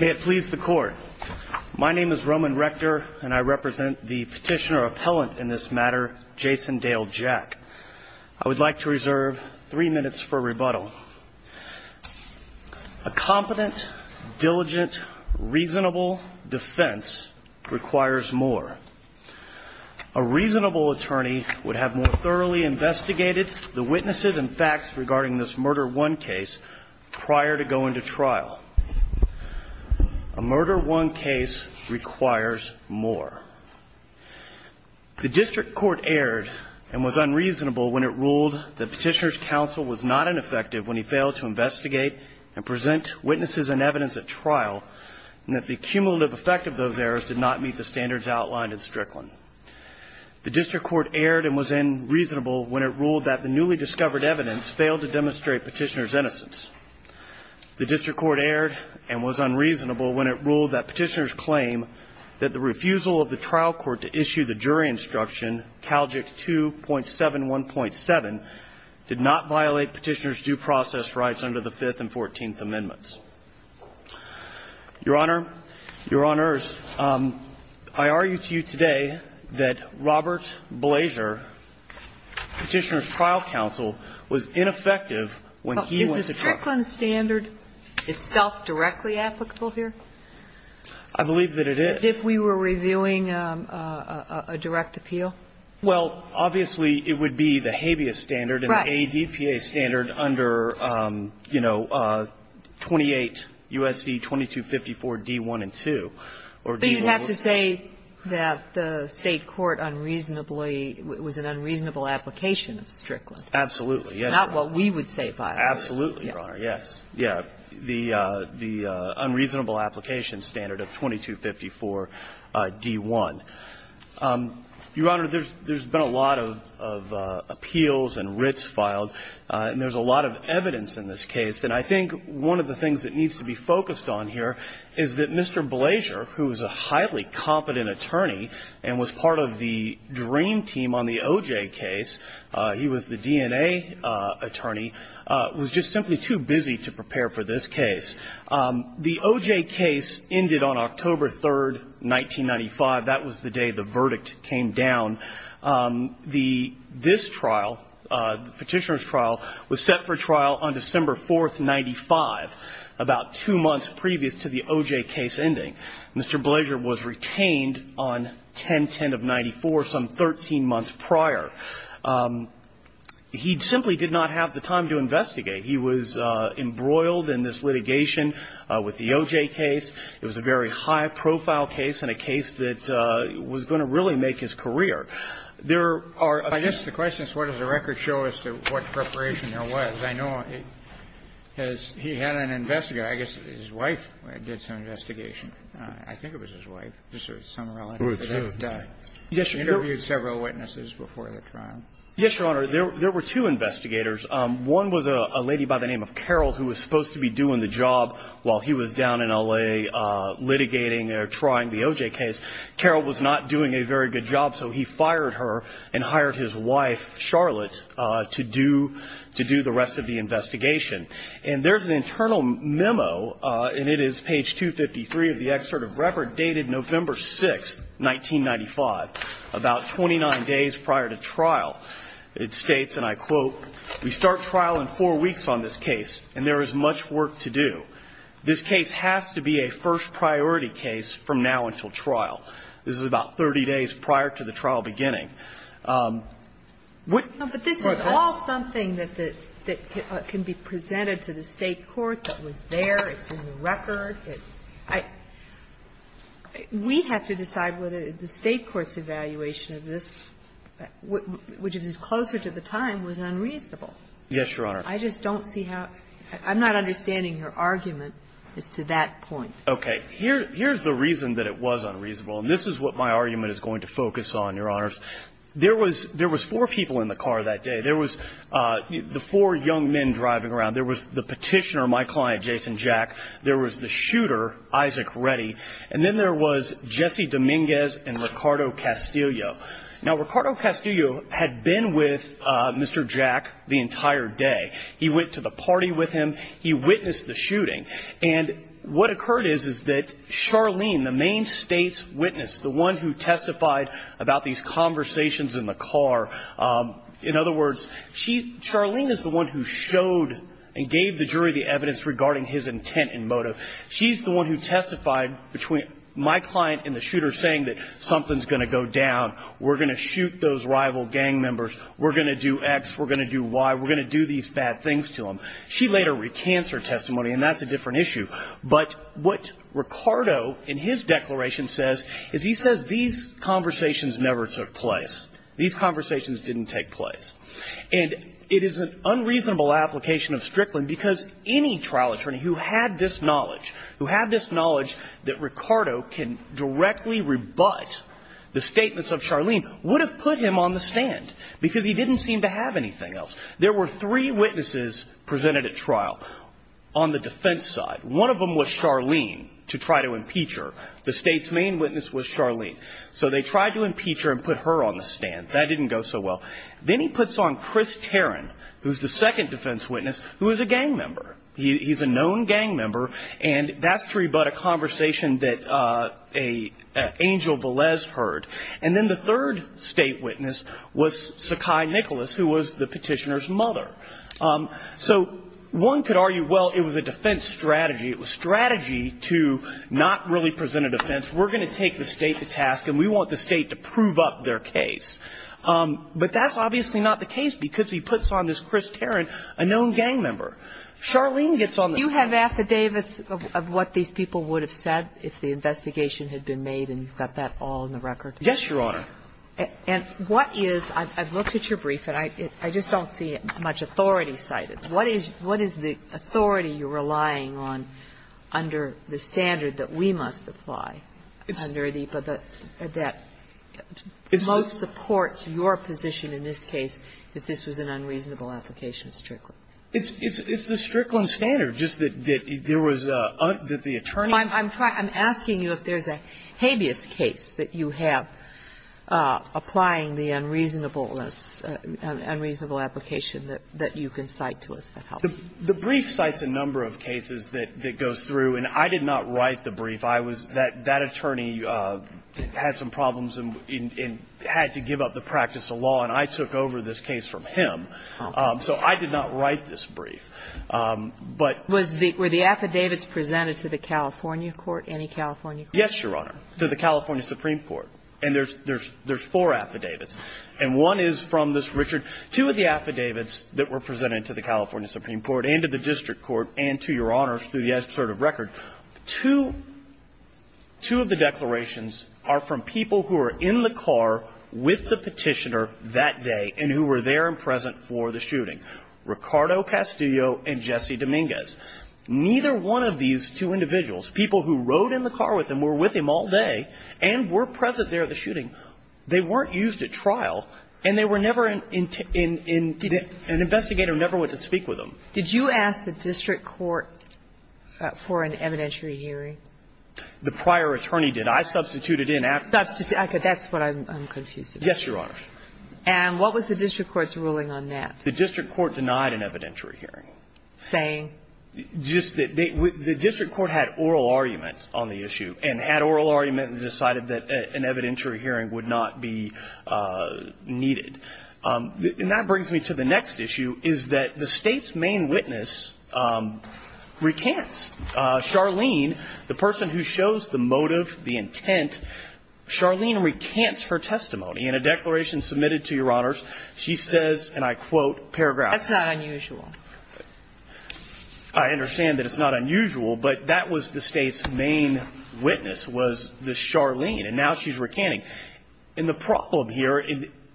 May it please the court. My name is Roman Rector and I represent the petitioner or appellant in this matter, Jason Dale Jack. I would like to reserve three minutes for rebuttal. A competent, diligent, reasonable defense requires more. A reasonable attorney would have more thoroughly investigated the case. A murder one case requires more. The district court erred and was unreasonable when it ruled that petitioner's counsel was not ineffective when he failed to investigate and present witnesses and evidence at trial and that the cumulative effect of those errors did not meet the standards outlined in Strickland. The district court erred and was unreasonable when it ruled that the newly discovered evidence failed to demonstrate petitioner's The district court erred and was unreasonable when it ruled that petitioner's claim that the refusal of the trial court to issue the jury instruction, Calgic 2.71.7, did not violate petitioner's due process rights under the Fifth and Fourteenth Amendments. Your Honor, Your Honors, I argue to you today that Robert Blaser, petitioner's trial counsel, was ineffective when he went to trial. Is the Strickland standard itself directly applicable here? I believe that it is. If we were reviewing a direct appeal? Well, obviously, it would be the habeas standard and the ADPA standard under, you know, 28 U.S.C. 2254 D.1 and 2, or D.1 and 2. But you have to say that the State court unreasonably was an unreasonable application of Strickland. Absolutely. Not what we would say violated. Absolutely, Your Honor, yes, yeah. The unreasonable application standard of 2254 D.1. Your Honor, there's been a lot of appeals and writs filed, and there's a lot of evidence in this case, and I think one of the things that needs to be focused on here is that Mr. Blaser, who is a highly competent attorney and was part of the dream team on the case, was just simply too busy to prepare for this case. The O.J. case ended on October 3, 1995. That was the day the verdict came down. The this trial, Petitioner's trial, was set for trial on December 4, 1995, about two months previous to the O.J. case ending. Mr. Blaser was retained on 1010 of 94 some 13 months prior. He simply did not have the time to investigate. He was embroiled in this litigation with the O.J. case. It was a very high-profile case and a case that was going to really make his career. There are a few other cases that he was involved in, but I think he was just too busy to prepare for this case. I know he had an investigator, I guess his wife, did some investigation. I think it was his wife, Mr. Sumrall, I don't know. Yes, Your Honor. He interviewed several witnesses before the trial. Yes, Your Honor. There were two investigators. One was a lady by the name of Carol, who was supposed to be doing the job while he was down in L.A. litigating or trying the O.J. case. Carol was not doing a very good job, so he fired her and hired his wife, Charlotte, to do the rest of the investigation. And there's an internal memo, and it is page 253 of the excerpt of Reppert, dated November 6, 1995, about 29 days prior to trial. It states, and I quote, We start trial in four weeks on this case, and there is much work to do. This case has to be a first priority case from now until trial. This is about 30 days prior to the trial beginning. What the question is But this is all something that can be presented to the State Court, that was there, it's in the record. I We have to decide whether the State court's evaluation of this, which was closer to the time, was unreasonable. Yes, Your Honor. I just don't see how – I'm not understanding your argument as to that point. Okay. Here's the reason that it was unreasonable, and this is what my argument is going to focus on, Your Honors. There was four people in the car that day. There was the four young men driving around. There was the Petitioner, my client, Jason Jack. There was the shooter, Isaac Reddy. And then there was Jesse Dominguez and Ricardo Castillo. Now, Ricardo Castillo had been with Mr. Jack the entire day. He went to the party with him. He witnessed the shooting. And what occurred is, is that Charlene, the main State's witness, the one who testified about these conversations in the car, in other words, Charlene is the one who showed and gave the jury the evidence regarding his intent and motive. She's the one who testified between my client and the shooter saying that something's going to go down. We're going to shoot those rival gang members. We're going to do X. We're going to do Y. We're going to do these bad things to them. She later recants her testimony, and that's a different issue. But what Ricardo, in his declaration, says is he says these conversations never took place. These conversations didn't take place. And it is an unreasonable application of Strickland because any trial attorney who had this knowledge, who had this knowledge that Ricardo can directly rebut the statements of Charlene would have put him on the stand because he didn't seem to have anything else. There were three witnesses presented at trial on the defense side. One of them was Charlene to try to impeach her. The State's main witness was Charlene. So they tried to impeach her and put her on the stand. That didn't go so well. Then he puts on Chris Tarrin, who's the second defense witness, who is a gang member. He's a known gang member, and that's to rebut a conversation that Angel Velez heard. And then the third State witness was Sakai Nicholas, who was the petitioner's mother. So one could argue, well, it was a defense strategy. It was strategy to not really present a defense. We're going to take the State to task, and we want the State to prove up their case. But that's obviously not the case because he puts on this Chris Tarrin a known gang member. Charlene gets on the stand. You have affidavits of what these people would have said if the investigation had been made, and you've got that all in the record? Yes, Your Honor. And what is – I've looked at your brief, and I just don't see much authority cited. What is the authority you're relying on under the standard that we must apply under the standard that most supports your position in this case that this was an unreasonable application of Strickland? It's the Strickland standard, just that there was a – that the attorney – I'm trying – I'm asking you if there's a habeas case that you have applying the unreasonableness – unreasonable application that you can cite to us to help. The brief cites a number of cases that goes through, and I did not write the brief. I was – that attorney had some problems and had to give up the practice of law, and I took over this case from him. So I did not write this brief. Was the – were the affidavits presented to the California court, any California court? Yes, Your Honor, to the California Supreme Court. And there's four affidavits. And one is from this, Richard. Two of the affidavits that were presented to the California Supreme Court and to the Two of the declarations are from people who were in the car with the Petitioner that day and who were there and present for the shooting, Ricardo Castillo and Jesse Dominguez. Neither one of these two individuals, people who rode in the car with him, were with him all day and were present there at the shooting, they weren't used at trial, and they were never – an investigator never went to speak with them. Did you ask the district court for an evidentiary hearing? The prior attorney did. I substituted in after. Substitute – okay. That's what I'm confused about. Yes, Your Honor. And what was the district court's ruling on that? The district court denied an evidentiary hearing. Saying? Just that they – the district court had oral argument on the issue and had oral argument and decided that an evidentiary hearing would not be needed. And that brings me to the next issue, is that the State's main witness recants. Charlene, the person who shows the motive, the intent, Charlene recants her testimony. In a declaration submitted to Your Honors, she says, and I quote, paragraph – That's not unusual. I understand that it's not unusual, but that was the State's main witness, was this Charlene, and now she's recanting. And the problem here,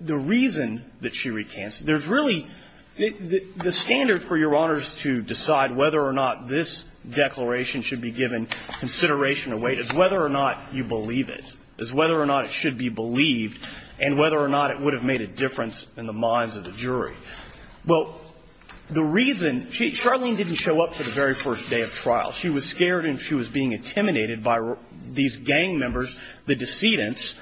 the reason that she recants, there's really – the standard for Your Honors to decide whether or not this declaration should be given consideration or wait is whether or not you believe it, is whether or not it should be believed, and whether or not it would have made a difference in the minds of the jury. Well, the reason – Charlene didn't show up for the very first day of trial. She was scared and she was being intimidated by these gang members, the decedents.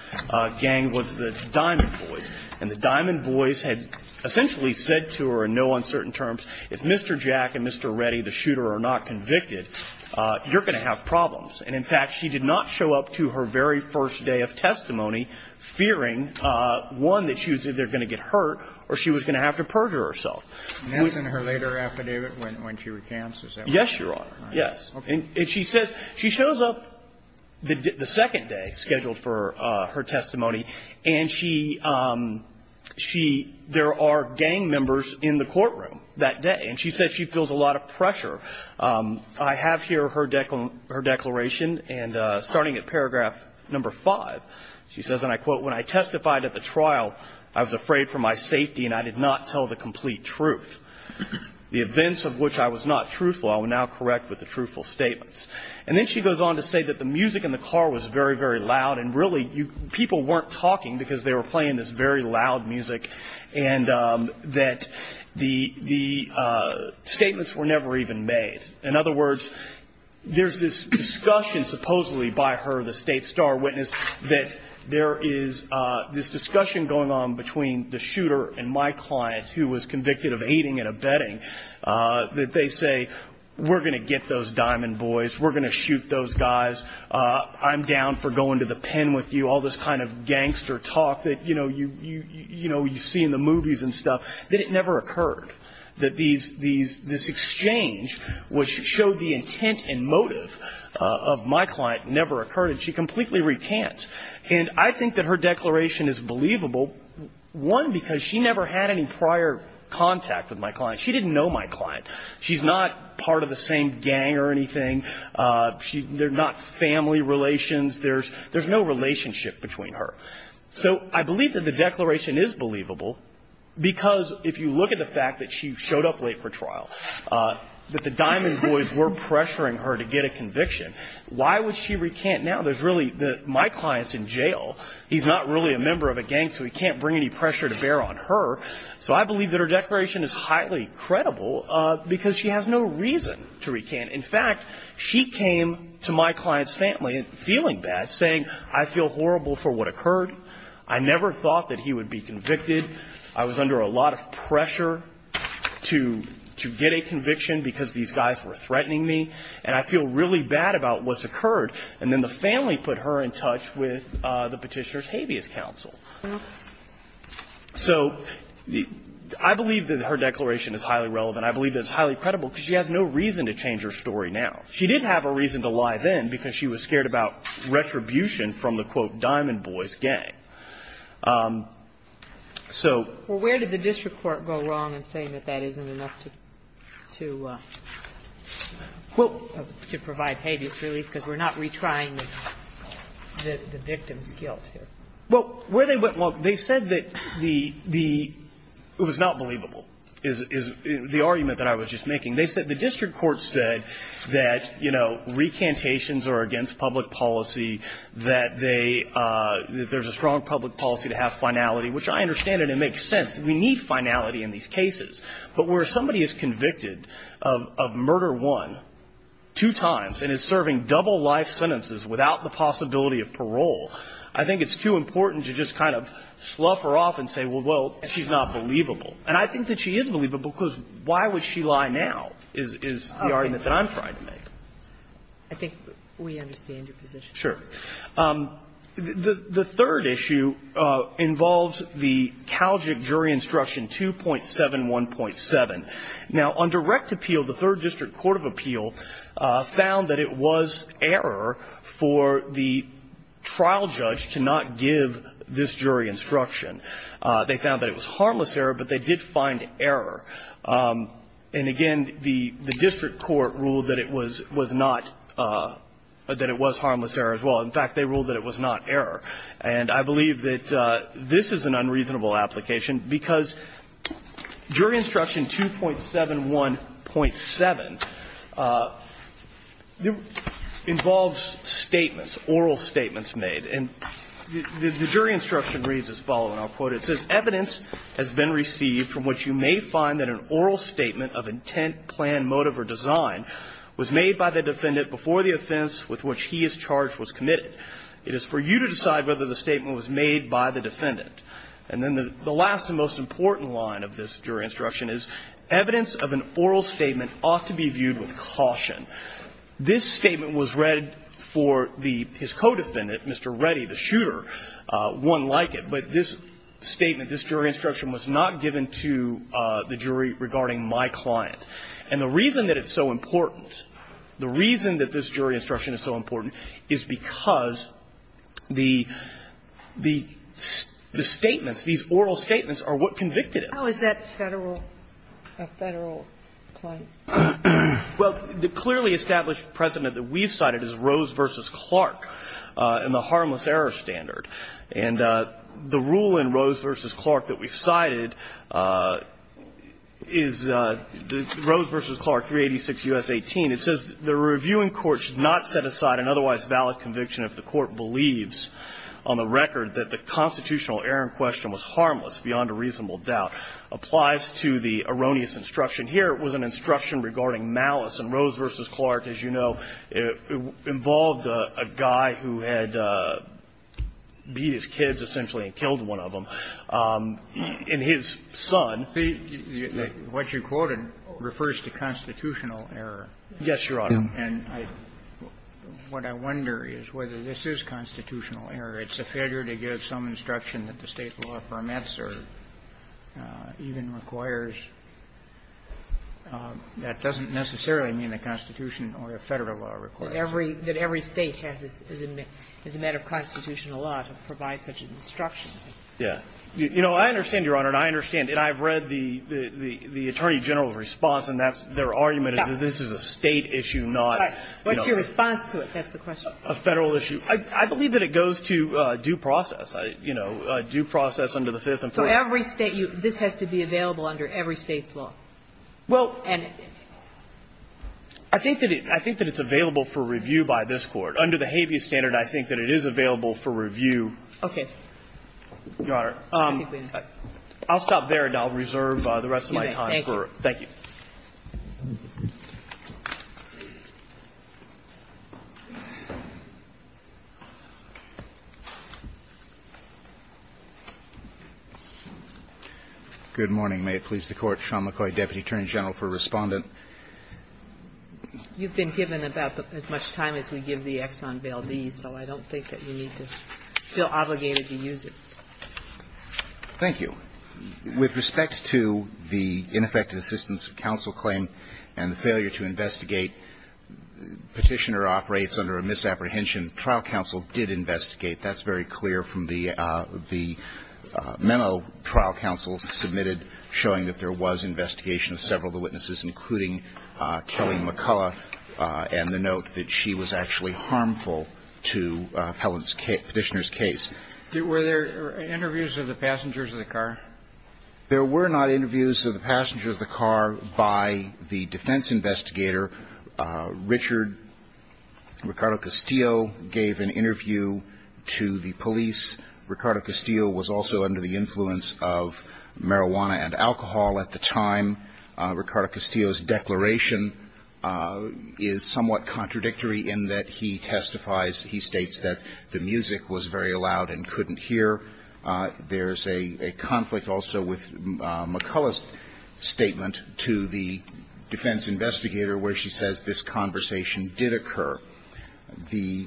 Gang was the Diamond Boys. And the Diamond Boys had essentially said to her in no uncertain terms, if Mr. Jack and Mr. Reddy, the shooter, are not convicted, you're going to have problems. And in fact, she did not show up to her very first day of testimony fearing, one, that she was either going to get hurt or she was going to have to perjure herself. And that's in her later affidavit when she recants, is that right? Yes, Your Honor. Yes. Okay. And she says – she shows up the second day scheduled for her testimony, and she – there are gang members in the courtroom that day. And she said she feels a lot of pressure. I have here her declaration, and starting at paragraph number 5, she says, and I quote, when I testified at the trial, I was afraid for my safety and I did not tell the complete truth. The events of which I was not truthful, I will now correct with the truthful statements. And then she goes on to say that the music in the car was very, very loud, and really people weren't talking because they were playing this very loud music, and that the statements were never even made. In other words, there's this discussion supposedly by her, the state star witness, that there is this discussion going on between the shooter and my client, who was convicted of aiding and abetting, that they say, we're going to get those Diamond Boys. We're going to shoot those guys. I'm down for going to the pen with you, all this kind of gangster talk that, you know, you see in the movies and stuff, that it never occurred, that these – this exchange which showed the intent and motive of my client never occurred. And she completely recants. And I think that her declaration is believable, one, because she never had any prior contact with my client. She didn't know my client. She's not part of the same gang or anything. They're not family relations. There's no relationship between her. So I believe that the declaration is believable because if you look at the fact that she showed up late for trial, that the Diamond Boys were pressuring her to get a conviction, why would she recant now? There's really – my client's in jail. He's not really a member of a gang, so he can't bring any pressure to bear on her. So I believe that her declaration is highly credible because she has no reason to recant. In fact, she came to my client's family feeling bad, saying, I feel horrible for what occurred. I never thought that he would be convicted. I was under a lot of pressure to get a conviction because these guys were threatening me, and I feel really bad about what's occurred. And then the family put her in touch with the Petitioner's Habeas Council. So I believe that her declaration is highly relevant. I believe that it's highly credible because she has no reason to change her story now. She did have a reason to lie then because she was scared about retribution from the, quote, Diamond Boys gang. So — Well, where did the district court go wrong in saying that that isn't enough to – to provide habeas relief because we're not retrying the victim's guilt here? Well, where they went wrong, they said that the – it was not believable is the argument that I was just making. They said – the district court said that, you know, recantations are against public policy, that they – that there's a strong public policy to have finality, which I understand and it makes sense. We need finality in these cases. But where somebody is convicted of murder one two times and is serving double life sentences without the possibility of parole, I think it's too important to just kind of slough her off and say, well, she's not believable. And I think that she is believable because why would she lie now is the argument that I'm trying to make. I think we understand your position. Sure. The third issue involves the Calgic jury instruction 2.71.7. Now, on direct appeal, the third district court of appeal found that it was error for the trial judge to not give this jury instruction. They found that it was harmless error, but they did find error. And again, the district court ruled that it was not – that it was harmless error as well. In fact, they ruled that it was not error. And I believe that this is an unreasonable application because jury instruction 2.71.7 involves statements, oral statements made. And the jury instruction reads as follows, and I'll quote it. It says, "... evidence has been received from which you may find that an oral statement of intent, plan, motive or design was made by the defendant before the offense with which he is charged was committed. It is for you to decide whether the statement was made by the defendant." And then the last and most important line of this jury instruction is, "... evidence of an oral statement ought to be viewed with caution." This statement was read for the – his co-defendant, Mr. Reddy, the shooter. One liked it. But this statement, this jury instruction was not given to the jury regarding my client. And the reason that it's so important, the reason that this jury instruction is so important is because the – the statements, these oral statements, are what convicted him. How is that Federal – a Federal claim? Well, the clearly established precedent that we've cited is Rose v. Clark and the harmless error standard. And the rule in Rose v. Clark that we've cited is the – Rose v. Clark, 386 U.S. 18. It says, "... the reviewing court should not set aside an otherwise valid conviction if the court believes on the record that the constitutional error in question was harmless beyond a reasonable doubt." Now, that applies to the erroneous instruction here. It was an instruction regarding malice. And Rose v. Clark, as you know, involved a guy who had beat his kids, essentially, and killed one of them. And his son – What you quoted refers to constitutional error. Yes, Your Honor. And I – what I wonder is whether this is constitutional error. It's a failure to give some instruction that the State law permits or even requires – that doesn't necessarily mean the Constitution or the Federal law requires. Every – that every State has is a matter of constitutional law to provide such an instruction. Yeah. You know, I understand, Your Honor, and I understand. And I've read the Attorney General's response, and that's – their argument is that this is a State issue, not, you know, a Federal issue. What's your response to it? That's the question. A Federal issue. I believe that it goes to due process. You know, due process under the Fifth and Fourth. So every State – this has to be available under every State's law? Well, I think that it – I think that it's available for review by this Court. Under the habeas standard, I think that it is available for review. Okay. Your Honor, I'll stop there, and I'll reserve the rest of my time for it. Thank you. Good morning. May it please the Court. Sean McCoy, Deputy Attorney General for Respondent. You've been given about as much time as we give the Exxon Valdez, so I don't think that you need to feel obligated to use it. Thank you. With respect to the ineffective assistance of counsel claim and the failure to investigate, Petitioner operates under a misapprehension. Trial counsel did investigate. That's very clear from the memo trial counsel submitted showing that there was investigation of several of the witnesses, including Kelly McCullough, and the note that she was actually harmful to Petitioner's case. Were there interviews of the passengers of the car? There were not interviews of the passengers of the car by the defense investigator. Richard – Ricardo Castillo gave an interview to the police. Ricardo Castillo was also under the influence of marijuana and alcohol at the time. Ricardo Castillo's declaration is somewhat contradictory in that he testifies – he states that the music was very loud and couldn't hear. There's a conflict also with McCullough's statement to the defense investigator where she says this conversation did occur. The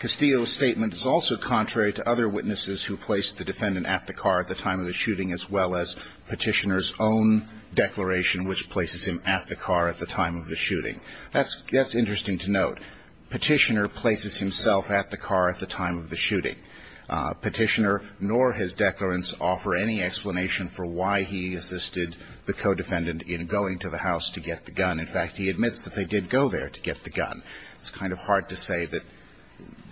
Castillo statement is also contrary to other witnesses who placed the defendant at the car at the time of the shooting, as well as Petitioner's own declaration, which places him at the car at the time of the shooting. That's interesting to note. Petitioner places himself at the car at the time of the shooting. Petitioner nor his declarants offer any explanation for why he assisted the co-defendant in going to the house to get the gun. In fact, he admits that they did go there to get the gun. It's kind of hard to say that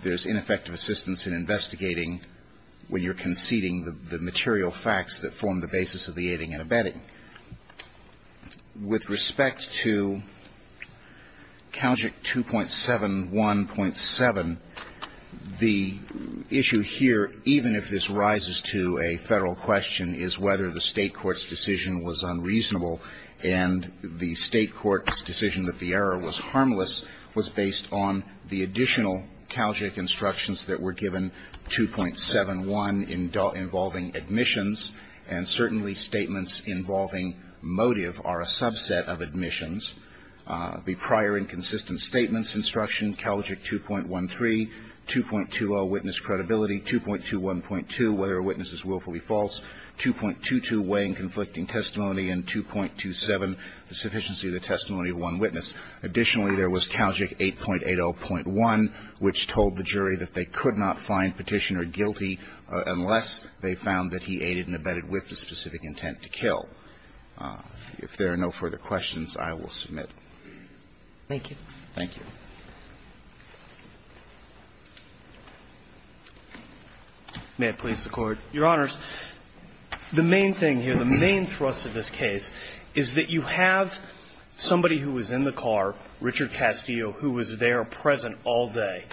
there's ineffective assistance in investigating when you're conceding the material facts that form the basis of the aiding and abetting. With respect to Calgic 2.71.7, the issue here, even if this rises to a Federal question, is whether the State court's decision was unreasonable and the State court's decision that the error was harmless was based on the additional Calgic instructions that were given, 2.71, involving admissions, and certainly statements involving motive are a subset of admissions. The prior inconsistent statements instruction, Calgic 2.13, 2.20, witness credibility, 2.21.2, whether a witness is willfully false, 2.22, weighing conflicting testimony, and 2.27, the sufficiency of the testimony of one witness. Additionally, there was Calgic 8.80.1, which told the jury that they could not find Petitioner guilty unless they found that he aided and abetted with the specific intent to kill. If there are no further questions, I will submit. Thank you. Thank you. May it please the Court. Your Honors, the main thing here, the main thrust of this case is that you have somebody who was in the car, Richard Castillo, who was there present all day,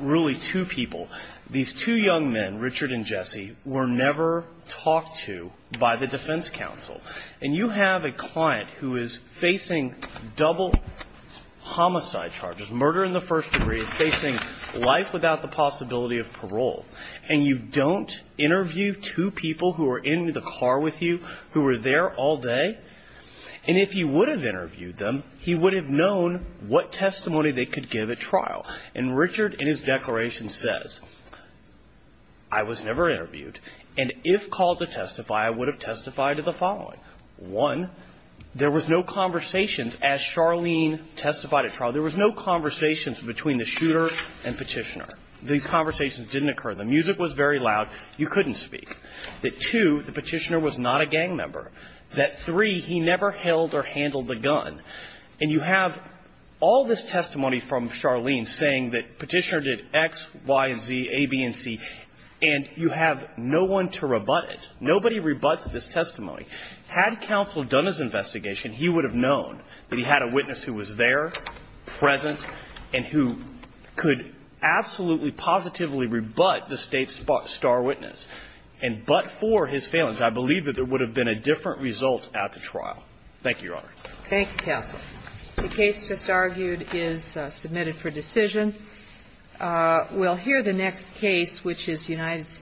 really two people. These two young men, Richard and Jesse, were never talked to by the defense counsel. And you have a client who is facing double homicide charges, murder in the first degree, is facing life without the possibility of parole. And you don't interview two people who are in the car with you who were there all day? And if you would have interviewed them, he would have known what testimony they could give at trial. And Richard, in his declaration, says, I was never interviewed. And if called to testify, I would have testified to the following. One, there was no conversations. As Charlene testified at trial, there was no conversations between the shooter and Petitioner. These conversations didn't occur. The music was very loud. You couldn't speak. That, two, the Petitioner was not a gang member. That, three, he never held or handled the gun. And you have all this testimony from Charlene saying that Petitioner did X, Y, Z, A, B, and C. And you have no one to rebut it. Nobody rebuts this testimony. Had counsel done his investigation, he would have known that he had a witness who was there, present, and who could absolutely, positively rebut the state's star witness. And but for his failings, I believe that there would have been a different result at the trial. Thank you, Your Honor. Thank you, counsel. The case just argued is submitted for decision. We'll hear the next case, which is United.